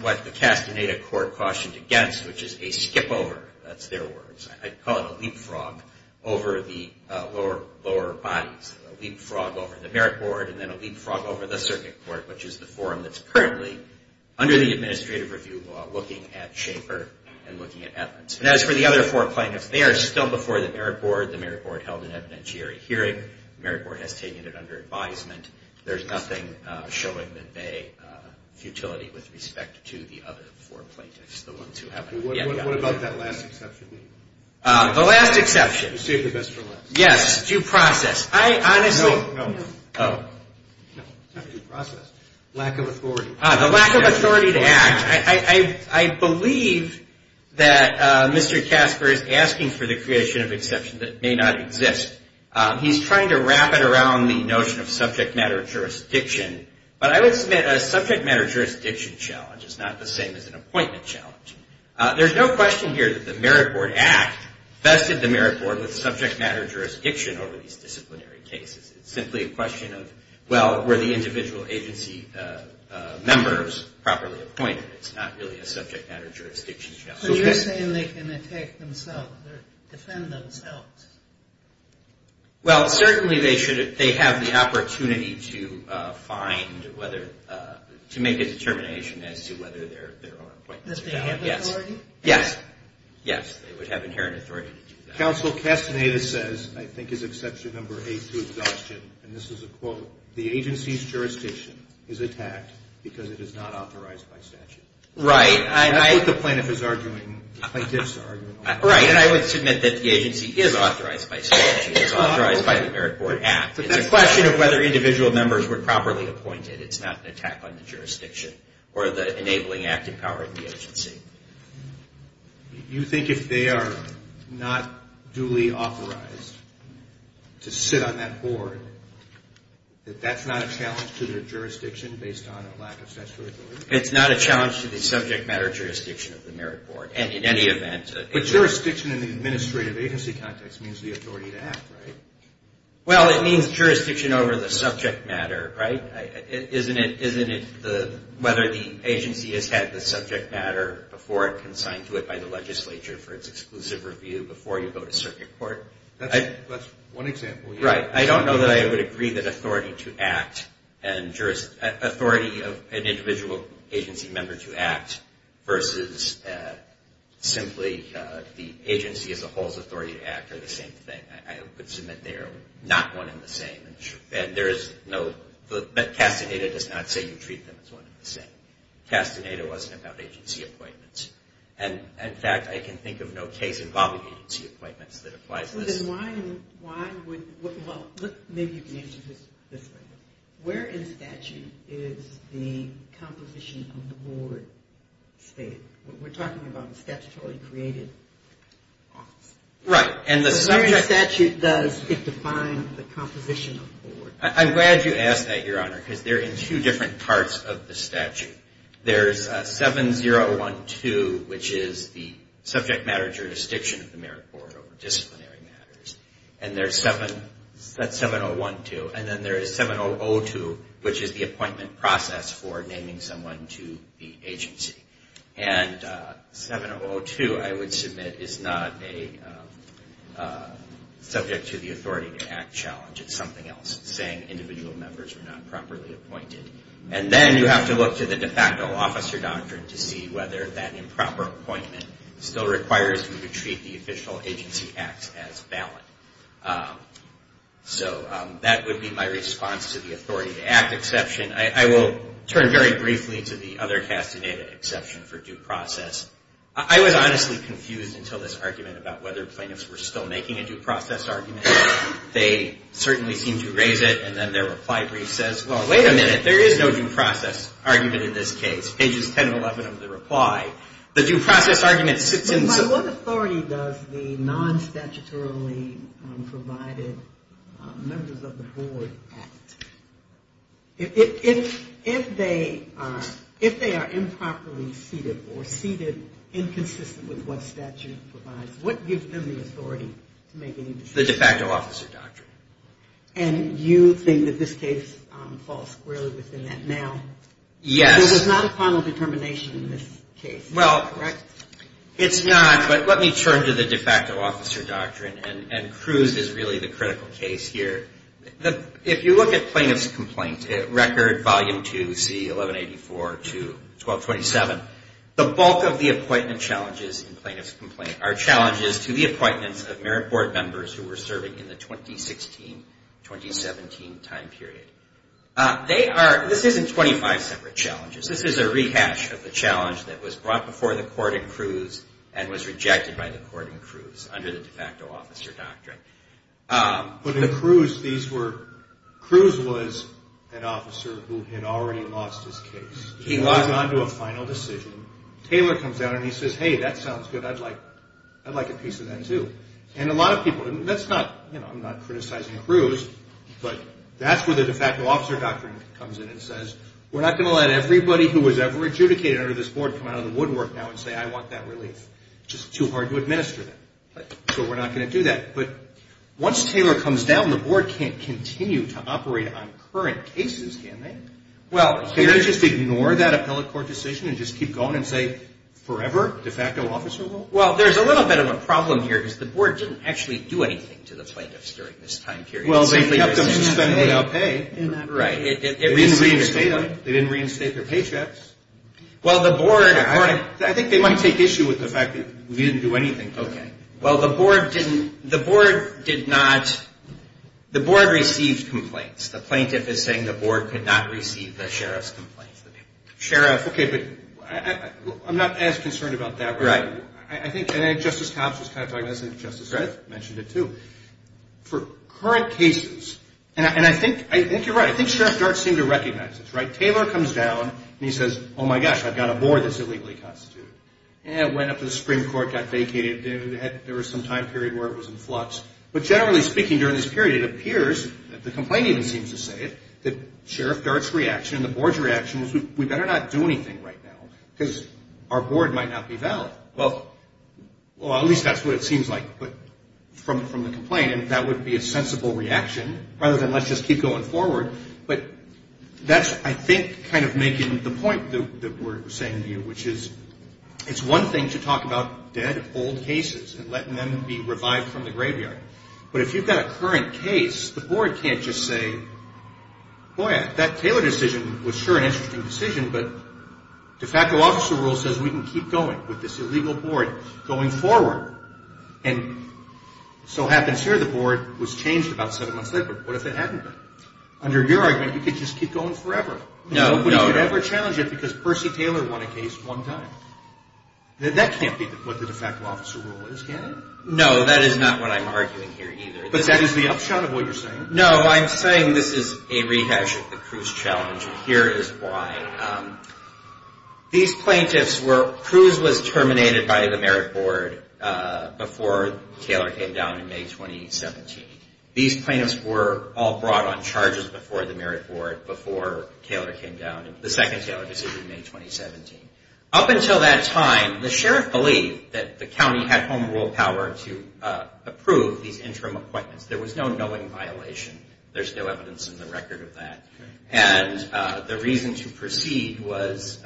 what the Castaneda court cautioned against, which is a skipover. That's their words. I call it a leapfrog over the lower bodies. A leapfrog over the Merit Board and then a leapfrog over the circuit court, which is the forum that's currently, under the administrative review law, looking at Schaefer and looking at Evans. And as for the other four plaintiffs, they are still before the Merit Board. The Merit Board held an evidentiary hearing. The Merit Board has taken it under advisement. There's nothing showing that they, futility with respect to the other four plaintiffs, the ones who haven't yet gotten it. What about that last exception? The last exception? You saved the best for last. Yes, due process. I honestly No, no, no. Oh. No, not due process. Lack of authority. The lack of authority to act. I believe that Mr. Casper is asking for the creation of exception that may not exist. He's trying to wrap it around the notion of subject matter jurisdiction. But I would submit a subject matter jurisdiction challenge is not the same as an appointment challenge. There's no question here that the Merit Board act vested the Merit Board with subject matter jurisdiction over these disciplinary cases. It's simply a question of, well, were the individual agency members properly appointed? It's not really a subject matter jurisdiction challenge. So you're saying they can attack themselves or defend themselves? Well, certainly they should. They have the opportunity to find whether, to make a determination as to whether their own appointments are valid. Does they have authority? Yes. Yes, they would have inherent authority to do that. Counsel Castaneda says, I think his exception number eight to exhaustion, and this is a quote, the agency's jurisdiction is attacked because it is not authorized by statute. Right. That's what the plaintiff is arguing, plaintiff's argument. Right, and I would submit that the agency is authorized by statute. It's authorized by the Merit Board act. It's a question of whether individual members were properly appointed. It's not an attack on the jurisdiction or the enabling acting power of the agency. You think if they are not duly authorized to sit on that board, that that's not a challenge to their jurisdiction based on a lack of statutory authority? It's not a challenge to the subject matter jurisdiction of the Merit Board, and in any event. But jurisdiction in the administrative agency context means the authority to act, right? Well, it means jurisdiction over the subject matter, right? Isn't it whether the agency has had the subject matter before it consigned to it by the legislature for its exclusive review before you go to circuit court? That's one example. Right. I don't know that I would agree that authority to act and authority of an individual agency member to act versus simply the agency as a whole's authority to act are the same thing. I would submit they are not one and the same. And there is no – Castaneda does not say you treat them as one and the same. Castaneda wasn't about agency appointments. And, in fact, I can think of no case involving agency appointments that applies this. Then why would – well, maybe you can answer this this way. Where in statute is the composition of the board stated? We're talking about a statutorily created office. Right. So where in the statute does it define the composition of the board? I'm glad you asked that, Your Honor, because they're in two different parts of the statute. There's 7012, which is the subject matter jurisdiction of the merit board over disciplinary matters. And there's – that's 7012. And then there is 7002, which is the appointment process for naming someone to the agency. And 7002, I would submit, is not a subject to the authority to act challenge. It's something else. It's saying individual members were not properly appointed. And then you have to look to the de facto officer doctrine to see whether that improper appointment still requires you to treat the official agency acts as valid. So that would be my response to the authority to act exception. I will turn very briefly to the other castadata exception for due process. I was honestly confused until this argument about whether plaintiffs were still making a due process argument. They certainly seem to raise it, and then their reply brief says, well, wait a minute, there is no due process argument in this case. Pages 10 and 11 of the reply. The due process argument sits in – What authority does the non-statutorily provided members of the board act? If they are improperly seated or seated inconsistent with what statute provides, what gives them the authority to make any decisions? The de facto officer doctrine. And you think that this case falls squarely within that now? Yes. There was not a final determination in this case, correct? It's not, but let me turn to the de facto officer doctrine, and Cruz is really the critical case here. If you look at plaintiff's complaint, record volume 2C1184 to 1227, the bulk of the appointment challenges in plaintiff's complaint are challenges to the appointments of merit board members who were serving in the 2016-2017 time period. They are – this isn't 25 separate challenges. This is a rehash of the challenge that was brought before the court in Cruz and was rejected by the court in Cruz under the de facto officer doctrine. But in Cruz, these were – Cruz was an officer who had already lost his case. He was on to a final decision. Taylor comes out and he says, hey, that sounds good. I'd like a piece of that too. And a lot of people – that's not – you know, I'm not criticizing Cruz, but that's where the de facto officer doctrine comes in and says, we're not going to let everybody who was ever adjudicated under this board come out of the woodwork now and say, I want that relief. It's just too hard to administer that, so we're not going to do that. But once Taylor comes down, the board can't continue to operate on current cases, can they? Well, can you just ignore that appellate court decision and just keep going and say, forever, de facto officer rule? Well, there's a little bit of a problem here because the board didn't actually do anything to the plaintiffs during this time period. Well, they kept them suspended without pay. Right. They didn't reinstate them. They didn't reinstate their paychecks. Well, the board – I think they might take issue with the fact that we didn't do anything to them. Okay. Well, the board didn't – the board did not – the board received complaints. The plaintiff is saying the board could not receive the sheriff's complaints. Sheriff – okay, but I'm not as concerned about that. Right. I think – and then Justice Hobbs was kind of talking about this, and Justice Smith mentioned it too. For current cases – and I think you're right. I think Sheriff Dart seemed to recognize this, right? Taylor comes down, and he says, oh, my gosh, I've got a board that's illegally constituted. And it went up to the Supreme Court, got vacated. There was some time period where it was in flux. But generally speaking, during this period, it appears – the complaint even seems to say it – that Sheriff Dart's reaction and the board's reaction was we better not do anything right now because our board might not be valid. Well, at least that's what it seems like from the complaint, and that would be a sensible reaction rather than let's just keep going forward. But that's, I think, kind of making the point that we're saying to you, which is it's one thing to talk about dead, old cases and letting them be revived from the graveyard. But if you've got a current case, the board can't just say, boy, that Taylor decision was sure an interesting decision, but de facto officer rule says we can keep going with this illegal board going forward. And so happens here. The board was changed about seven months later. But what if it hadn't been? Under your argument, you could just keep going forever. Nobody could ever challenge it because Percy Taylor won a case one time. That can't be what the de facto officer rule is, can it? No, that is not what I'm arguing here either. But that is the upshot of what you're saying? No, I'm saying this is a rehash of the Cruz challenge. And here is why. These plaintiffs were, Cruz was terminated by the merit board before Taylor came down in May 2017. These plaintiffs were all brought on charges before the merit board, before Taylor came down, the second Taylor decision in May 2017. Up until that time, the sheriff believed that the county had home rule power to approve these interim appointments. There was no knowing violation. There's no evidence in the record of that. And the reason to proceed was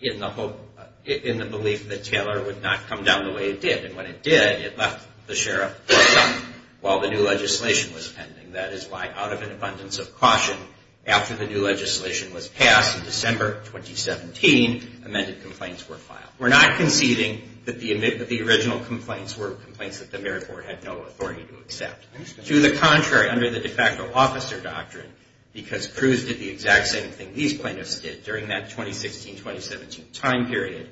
in the belief that Taylor would not come down the way it did. And when it did, it left the sheriff while the new legislation was pending. That is why, out of an abundance of caution, after the new legislation was passed in December 2017, amended complaints were filed. We're not conceding that the original complaints were complaints that the merit board had no authority to accept. To the contrary, under the de facto officer doctrine, because Cruz did the exact same thing these plaintiffs did during that 2016-2017 time period,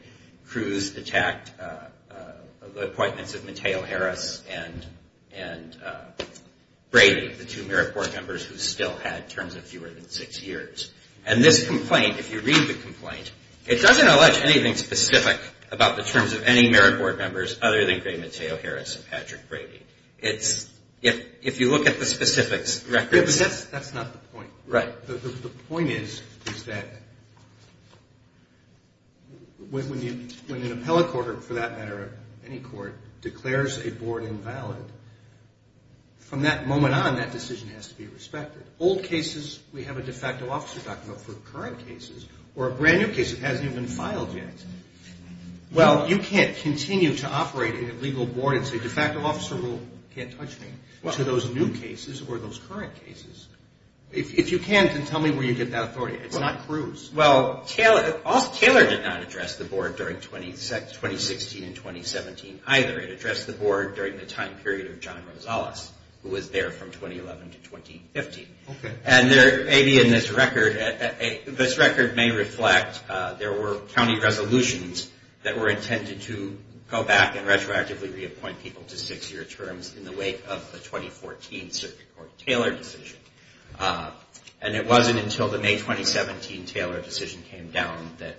Cruz attacked the appointments of Mateo Harris and Brady, the two merit board members who still had terms of fewer than six years. And this complaint, if you read the complaint, it doesn't allege anything specific about the terms of any merit board members other than Greg Mateo Harris and Patrick Brady. If you look at the specifics, records. That's not the point. Right. The point is that when an appellate court, or for that matter, any court, declares a board invalid, from that moment on, that decision has to be respected. Old cases, we have a de facto officer doctrine. But for current cases, or a brand new case that hasn't even been filed yet, Well, you can't continue to operate in a legal board and say, de facto officer rule can't touch me to those new cases or those current cases. If you can, then tell me where you get that authority. It's not Cruz. Well, Taylor did not address the board during 2016 and 2017 either. It addressed the board during the time period of John Rosales, who was there from 2011 to 2015. Maybe in this record, this record may reflect there were county resolutions that were intended to go back and retroactively reappoint people to six-year terms in the wake of the 2014 circuit court Taylor decision. And it wasn't until the May 2017 Taylor decision came down that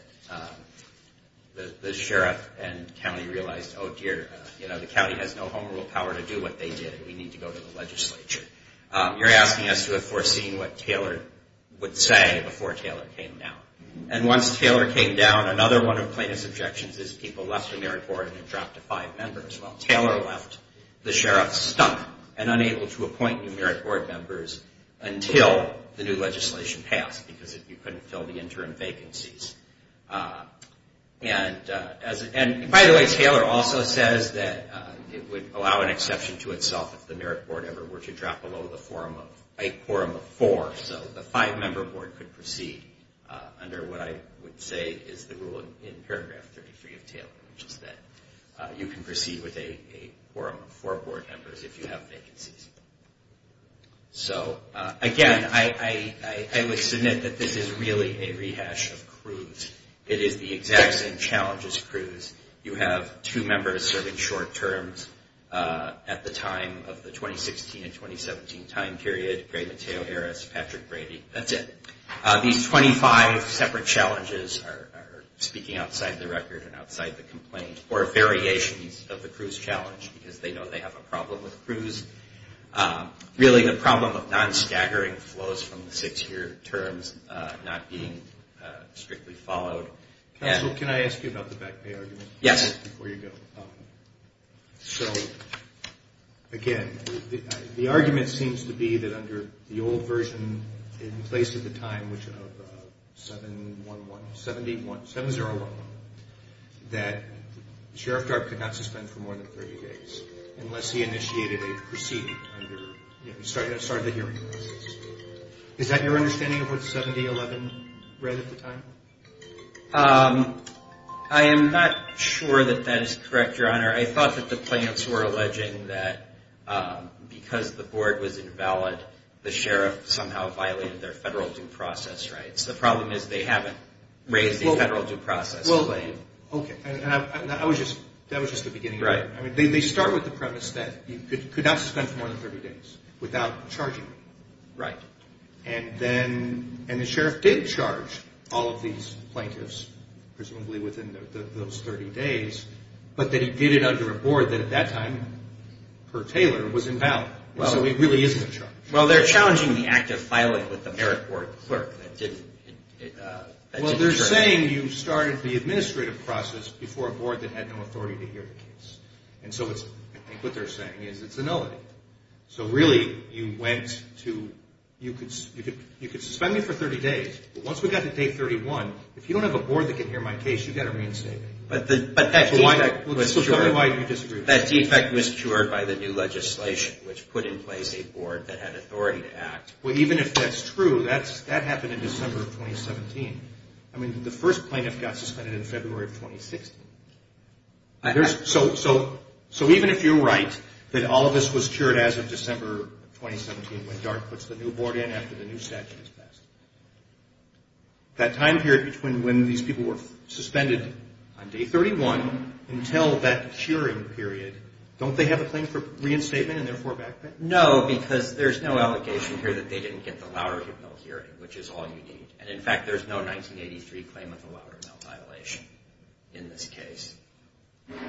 the sheriff and county realized, oh dear, the county has no home rule power to do what they did. We need to go to the legislature. You're asking us to have foreseen what Taylor would say before Taylor came down. And once Taylor came down, another one of Plaintiff's objections is people left the merit board and dropped to five members. Well, Taylor left. The sheriff stuck and unable to appoint new merit board members until the new legislation passed because you couldn't fill the interim vacancies. And by the way, Taylor also says that it would allow an exception to itself if the merit board ever were to drop below a quorum of four. So the five-member board could proceed under what I would say is the rule in paragraph 33 of Taylor, which is that you can proceed with a quorum of four board members if you have vacancies. So again, I would submit that this is really a rehash of Cruz. It is the exact same challenge as Cruz. You have two members serving short terms at the time of the 2016 and 2017 time period, Gray-Matteo Harris, Patrick Brady. That's it. These 25 separate challenges are speaking outside the record and outside the complaint or variations of the Cruz challenge because they know they have a problem with Cruz. Really, the problem of non-staggering flows from the six-year terms not being strictly followed. Counsel, can I ask you about the back pay argument? Yes. Before you go. So again, the argument seems to be that under the old version in place at the time, which of 7-0-1-1, that Sheriff Darp could not suspend for more than 30 days unless he initiated a proceeding under, you know, started the hearing process. Is that your understanding of what 7-0-1-1 read at the time? I am not sure that that is correct, Your Honor. I thought that the plaintiffs were alleging that because the board was invalid, the sheriff somehow violated their federal due process rights. The problem is they haven't raised the federal due process claim. Okay. That was just the beginning. Right. They start with the premise that you could not suspend for more than 30 days without charging. Right. And then the sheriff did charge all of these plaintiffs, presumably within those 30 days, but that he did it under a board that at that time, per Taylor, was invalid. So it really isn't a charge. Well, they're challenging the act of filing with the merit board clerk that did the charge. Well, they're saying you started the administrative process before a board that had no authority to hear the case. And so I think what they're saying is it's a nullity. So really you went to you could suspend me for 30 days, but once we got to day 31, if you don't have a board that can hear my case, you've got to reinstate me. But that defect was cured. Tell me why you disagree with that. That defect was cured by the new legislation, which put in place a board that had authority to act. Well, even if that's true, that happened in December of 2017. I mean, the first plaintiff got suspended in February of 2016. So even if you're right that all of this was cured as of December of 2017, when DART puts the new board in after the new statute is passed, that time period between when these people were suspended on day 31 until that curing period, don't they have a claim for reinstatement and therefore back that? No, because there's no allegation here that they didn't get the Loudermill hearing, which is all you need. And, in fact, there's no 1983 claim of the Loudermill violation in this case.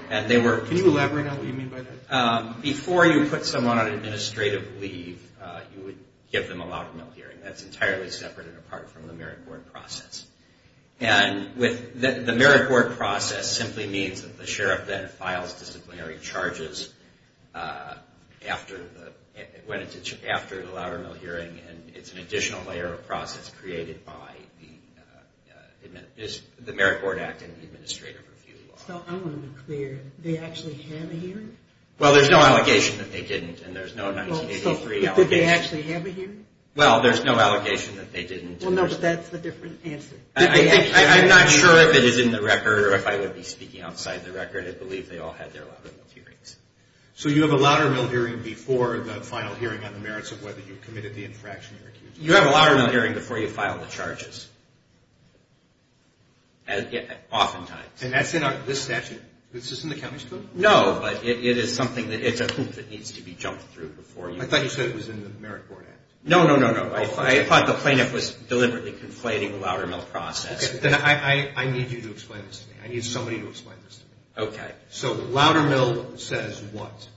Can you elaborate on what you mean by that? Before you put someone on administrative leave, you would give them a Loudermill hearing. That's entirely separate and apart from the merit board process. And the merit board process simply means that the sheriff then files disciplinary charges after the Loudermill hearing, and it's an additional layer of process created by the merit board act and the administrative review law. So I want to be clear. They actually have a hearing? Well, there's no allegation that they didn't, and there's no 1983 allegation. So did they actually have a hearing? Well, there's no allegation that they didn't. Well, no, but that's a different answer. I'm not sure if it is in the record or if I would be speaking outside the record. I believe they all had their Loudermill hearings. So you have a Loudermill hearing before the final hearing on the merits of whether you committed the infraction you're accused of? You have a Loudermill hearing before you file the charges, oftentimes. And that's in this statute? Is this in the county's code? No, but it is something that needs to be jumped through. I thought you said it was in the merit board act. No, no, no, no. I thought the plaintiff was deliberately conflating the Loudermill process. Okay, then I need you to explain this to me. I need somebody to explain this to me. Okay. So Loudermill says what?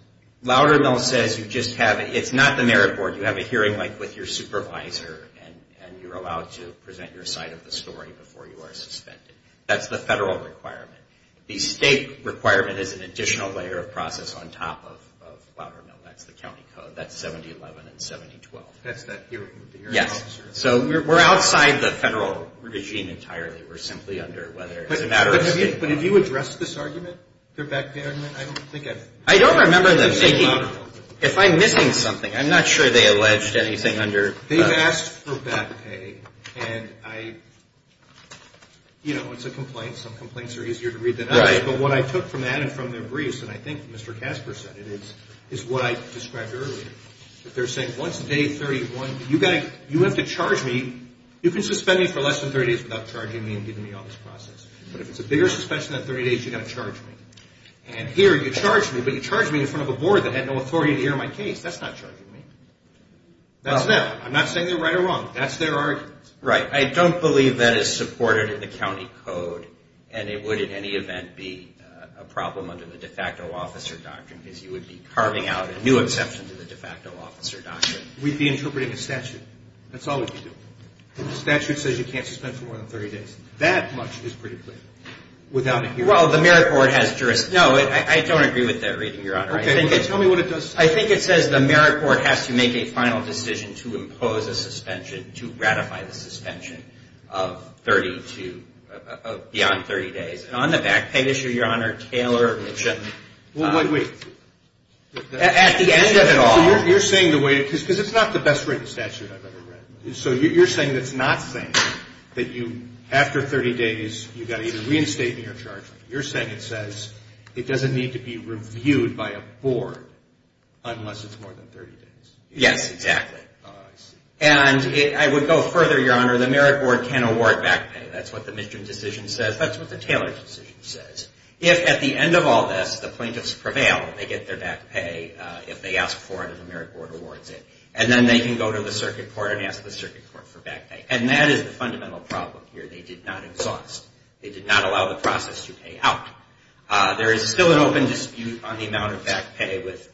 Loudermill says you just have it. It's not the merit board. You have a hearing, like, with your supervisor, and you're allowed to present your side of the story before you are suspended. That's the federal requirement. The state requirement is an additional layer of process on top of Loudermill. That's the county code. That's 7011 and 7012. That's that hearing with the hearing officer? Yes. So we're outside the federal regime entirely. We're simply under whether it's a matter of state. But have you addressed this argument, the back pay argument? I don't think I've. I don't remember them taking. If I'm missing something. I'm not sure they alleged anything under. They've asked for back pay, and I, you know, it's a complaint. Some complaints are easier to read than others. But what I took from that and from their briefs, and I think Mr. Casper said it, is what I described earlier. They're saying once day 31, you have to charge me. You can suspend me for less than 30 days without charging me and giving me all this process. But if it's a bigger suspension than 30 days, you've got to charge me. And here, you charge me, but you charge me in front of a board that had no authority to hear my case. That's not charging me. That's them. I'm not saying they're right or wrong. That's their argument. Right. I don't believe that is supported in the county code, and it would, in any event, be a problem under the de facto officer doctrine because you would be carving out a new exception to the de facto officer doctrine. We'd be interpreting a statute. That's all we'd be doing. The statute says you can't suspend for more than 30 days. That much is pretty clear without a hearing. Well, the merit board has jurisdiction. No, I don't agree with that reading, Your Honor. Okay. Tell me what it does say. I think it says the merit board has to make a final decision to impose a suspension, to ratify the suspension of beyond 30 days. And on the back pay issue, Your Honor, Taylor mentioned. Wait, wait. At the end of it all. Because it's not the best written statute I've ever read. So you're saying it's not saying that you, after 30 days, you've got to either reinstate me or charge me. You're saying it says it doesn't need to be reviewed by a board unless it's more than 30 days. Yes, exactly. Oh, I see. And I would go further, Your Honor. The merit board can award back pay. That's what the midterm decision says. That's what the Taylor decision says. If, at the end of all this, the plaintiffs prevail, they get their back pay if they ask for it and the merit board awards it. And then they can go to the circuit court and ask the circuit court for back pay. And that is the fundamental problem here. They did not exhaust. They did not allow the process to pay out. There is still an open dispute on the amount of back pay with...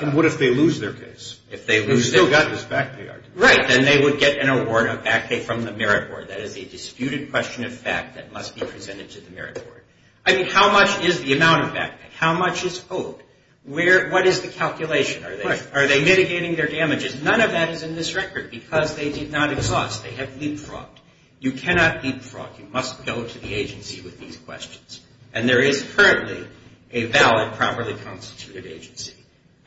And what if they lose their case? If they lose it... You've still got this back pay argument. Right. Then they would get an award of back pay from the merit board. That is a disputed question of fact that must be presented to the merit board. I mean, how much is the amount of back pay? How much is owed? What is the calculation? Are they mitigating their damages? None of that is in this record because they did not exhaust. They have leapfrogged. You cannot leapfrog. You must go to the agency with these questions. And there is currently a valid, properly constituted agency.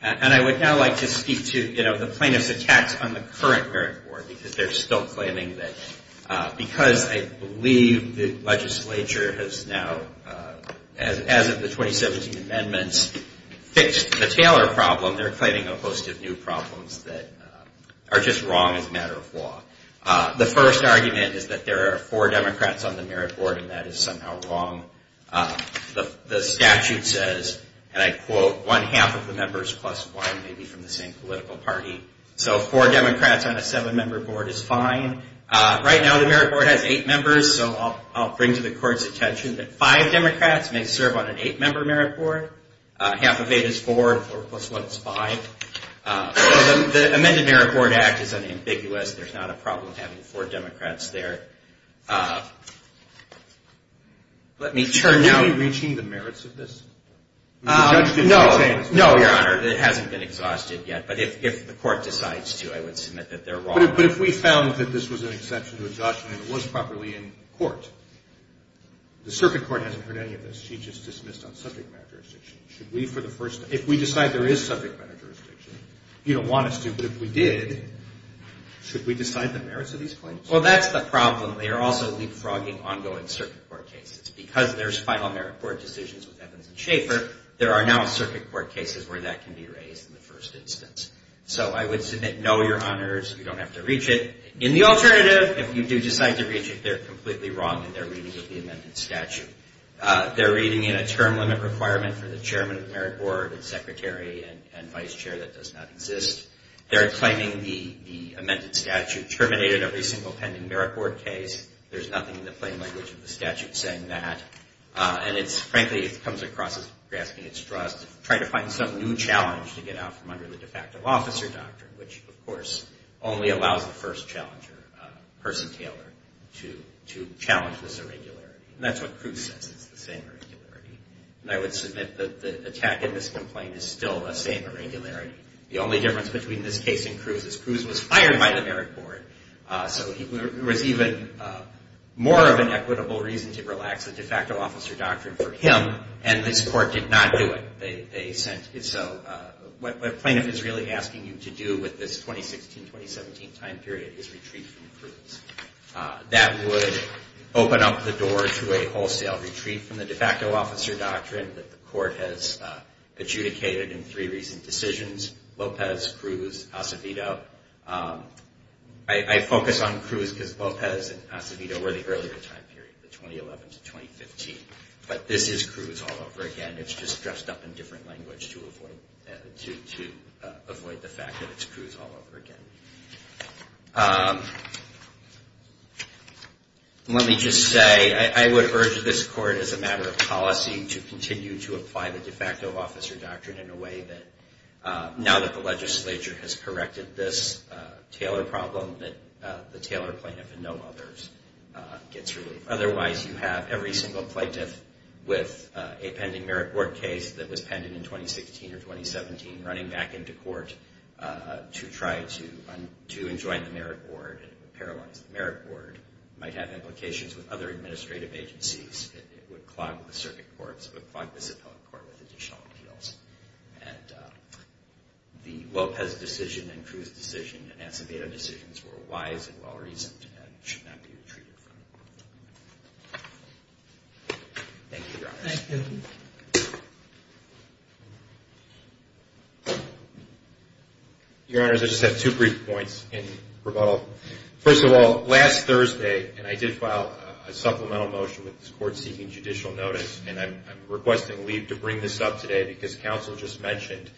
And I would now like to speak to the plaintiffs' attacks on the current merit board because they're still claiming that because I believe the legislature has now, as of the 2017 amendments, fixed the Taylor problem, they're claiming a host of new problems that are just wrong as a matter of law. The first argument is that there are four Democrats on the merit board, and that is somehow wrong. The statute says, and I quote, one-half of the members plus one may be from the same political party. So four Democrats on a seven-member board is fine. Right now the merit board has eight members, so I'll bring to the court's attention that five Democrats may serve on an eight-member merit board. Half of eight is four, four plus one is five. So the amended merit board act is unambiguous. There's not a problem having four Democrats there. Let me turn now. Are we reaching the merits of this? No. No, Your Honor. It hasn't been exhausted yet. But if the court decides to, I would submit that they're wrong. But if we found that this was an exception to exhaustion and it was properly in court, the circuit court hasn't heard any of this. She just dismissed on subject matter jurisdiction. If we decide there is subject matter jurisdiction, you don't want us to, but if we did, should we decide the merits of these claims? Well, that's the problem. They are also leapfrogging ongoing circuit court cases. Because there's final merit board decisions with Evans and Schaffer, there are now circuit court cases where that can be raised in the first instance. So I would submit no, Your Honors. You don't have to reach it. In the alternative, if you do decide to reach it, they're completely wrong in their reading of the amended statute. They're reading in a term limit requirement for the chairman of the merit board and secretary and vice chair that does not exist. They're claiming the amended statute terminated every single pending merit board case. There's nothing in the plain language of the statute saying that. Frankly, it comes across as grasping at straws to try to find some new challenge to get out from under the de facto officer doctrine, which, of course, only allows the first challenger, Percy Taylor, to challenge this irregularity. That's what Cruz says is the same irregularity. I would submit that the attack in this complaint is still the same irregularity. The only difference between this case and Cruz's, Cruz was fired by the merit board, so there was even more of an equitable reason to relax the de facto officer doctrine for him, and this court did not do it. What plaintiff is really asking you to do with this 2016-2017 time period is retreat from Cruz. That would open up the door to a wholesale retreat from the de facto officer doctrine that the court has adjudicated in three recent decisions, Lopez, Cruz, Acevedo. I focus on Cruz because Lopez and Acevedo were the earlier time period, the 2011-2015, but this is Cruz all over again. It's just dressed up in different language to avoid the fact that it's Cruz all over again. Let me just say, I would urge this court, as a matter of policy, to continue to apply the de facto officer doctrine in a way that, now that the legislature has corrected this Taylor problem, that the Taylor plaintiff and no others gets relief. Otherwise, you have every single plaintiff with a pending merit board case that was pending in 2016 or 2017 running back into court to try to enjoin the merit board and paralyze the merit board. It might have implications with other administrative agencies. It would clog the circuit courts. It would clog the Supelic Court with additional appeals. The Lopez decision and Cruz decision and Acevedo decisions were wise and well-reasoned and should not be retreated from. Thank you, Your Honor. Thank you. Your Honor, I just have two brief points in rebuttal. First of all, last Thursday, and I did file a supplemental motion with this court seeking judicial notice, and I'm requesting leave to bring this up today because counsel just mentioned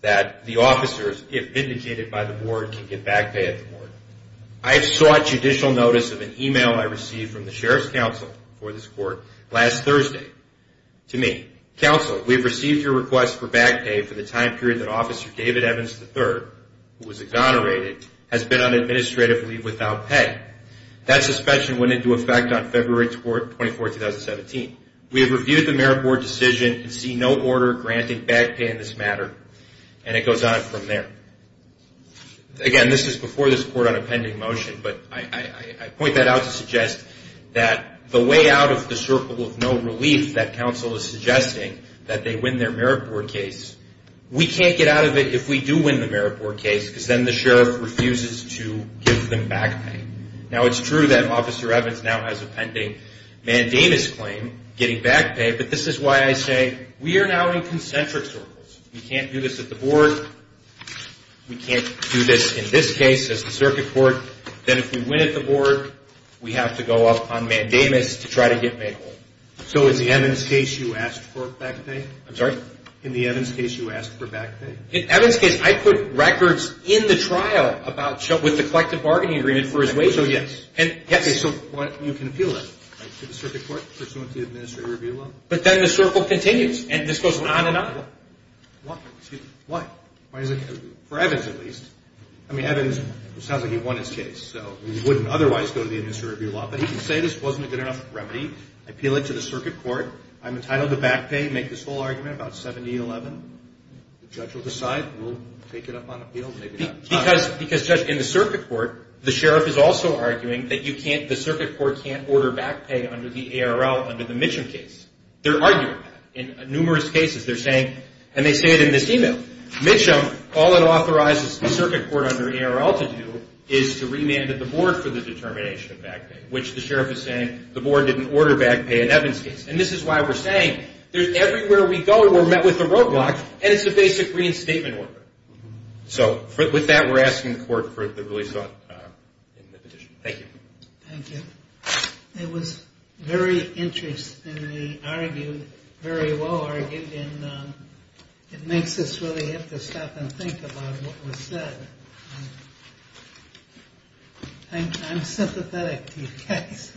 that the officers, if indicated by the board, can get back pay at the board. I have sought judicial notice of an email I received from the Sheriff's Counsel for this court last Thursday to me. Counsel, we've received your request for back pay for the time period that Officer David Evans III, who was exonerated, has been on administrative leave without pay. That suspicion went into effect on February 24, 2017. We have reviewed the merit board decision and see no order granting back pay in this matter, and it goes on from there. Again, this is before this court on a pending motion, but I point that out to suggest that the way out of the circle of no relief that counsel is suggesting, that they win their merit board case, we can't get out of it if we do win the merit board case because then the sheriff refuses to give them back pay. Now, it's true that Officer Evans now has a pending mandamus claim, getting back pay, but this is why I say we are now in concentric circles. We can't do this at the board. We can't do this in this case as the circuit court. Then if we win at the board, we have to go up on mandamus to try to get back pay. So in the Evans case, you asked for back pay? I'm sorry? In the Evans case, you asked for back pay? In Evans case, I put records in the trial with the collective bargaining agreement for his wages. So yes. So you can appeal that to the circuit court pursuant to the administrative review law? But then the circle continues, and this goes on and on. Why? For Evans at least. I mean, Evans, it sounds like he won his case, so he wouldn't otherwise go to the administrative review law, but he can say this wasn't a good enough remedy. I appeal it to the circuit court. I'm entitled to back pay, make this whole argument about 7011. The judge will decide. We'll take it up on appeal. Maybe not. Because, Judge, in the circuit court, the sheriff is also arguing that the circuit court can't order back pay under the ARL under the Mitchum case. They're arguing that in numerous cases. They're saying, and they say it in this email, Mitchum, all it authorizes the circuit court under ARL to do is to remand at the board for the determination of back pay, which the sheriff is saying the board didn't order back pay in Evans' case. And this is why we're saying everywhere we go we're met with a roadblock, and it's a basic reinstatement order. So with that, we're asking the court for the release of it in the petition. Thank you. Thank you. It was very interestingly argued, very well argued, and it makes us really have to stop and think about what was said. I'm sympathetic to your case. Thank you.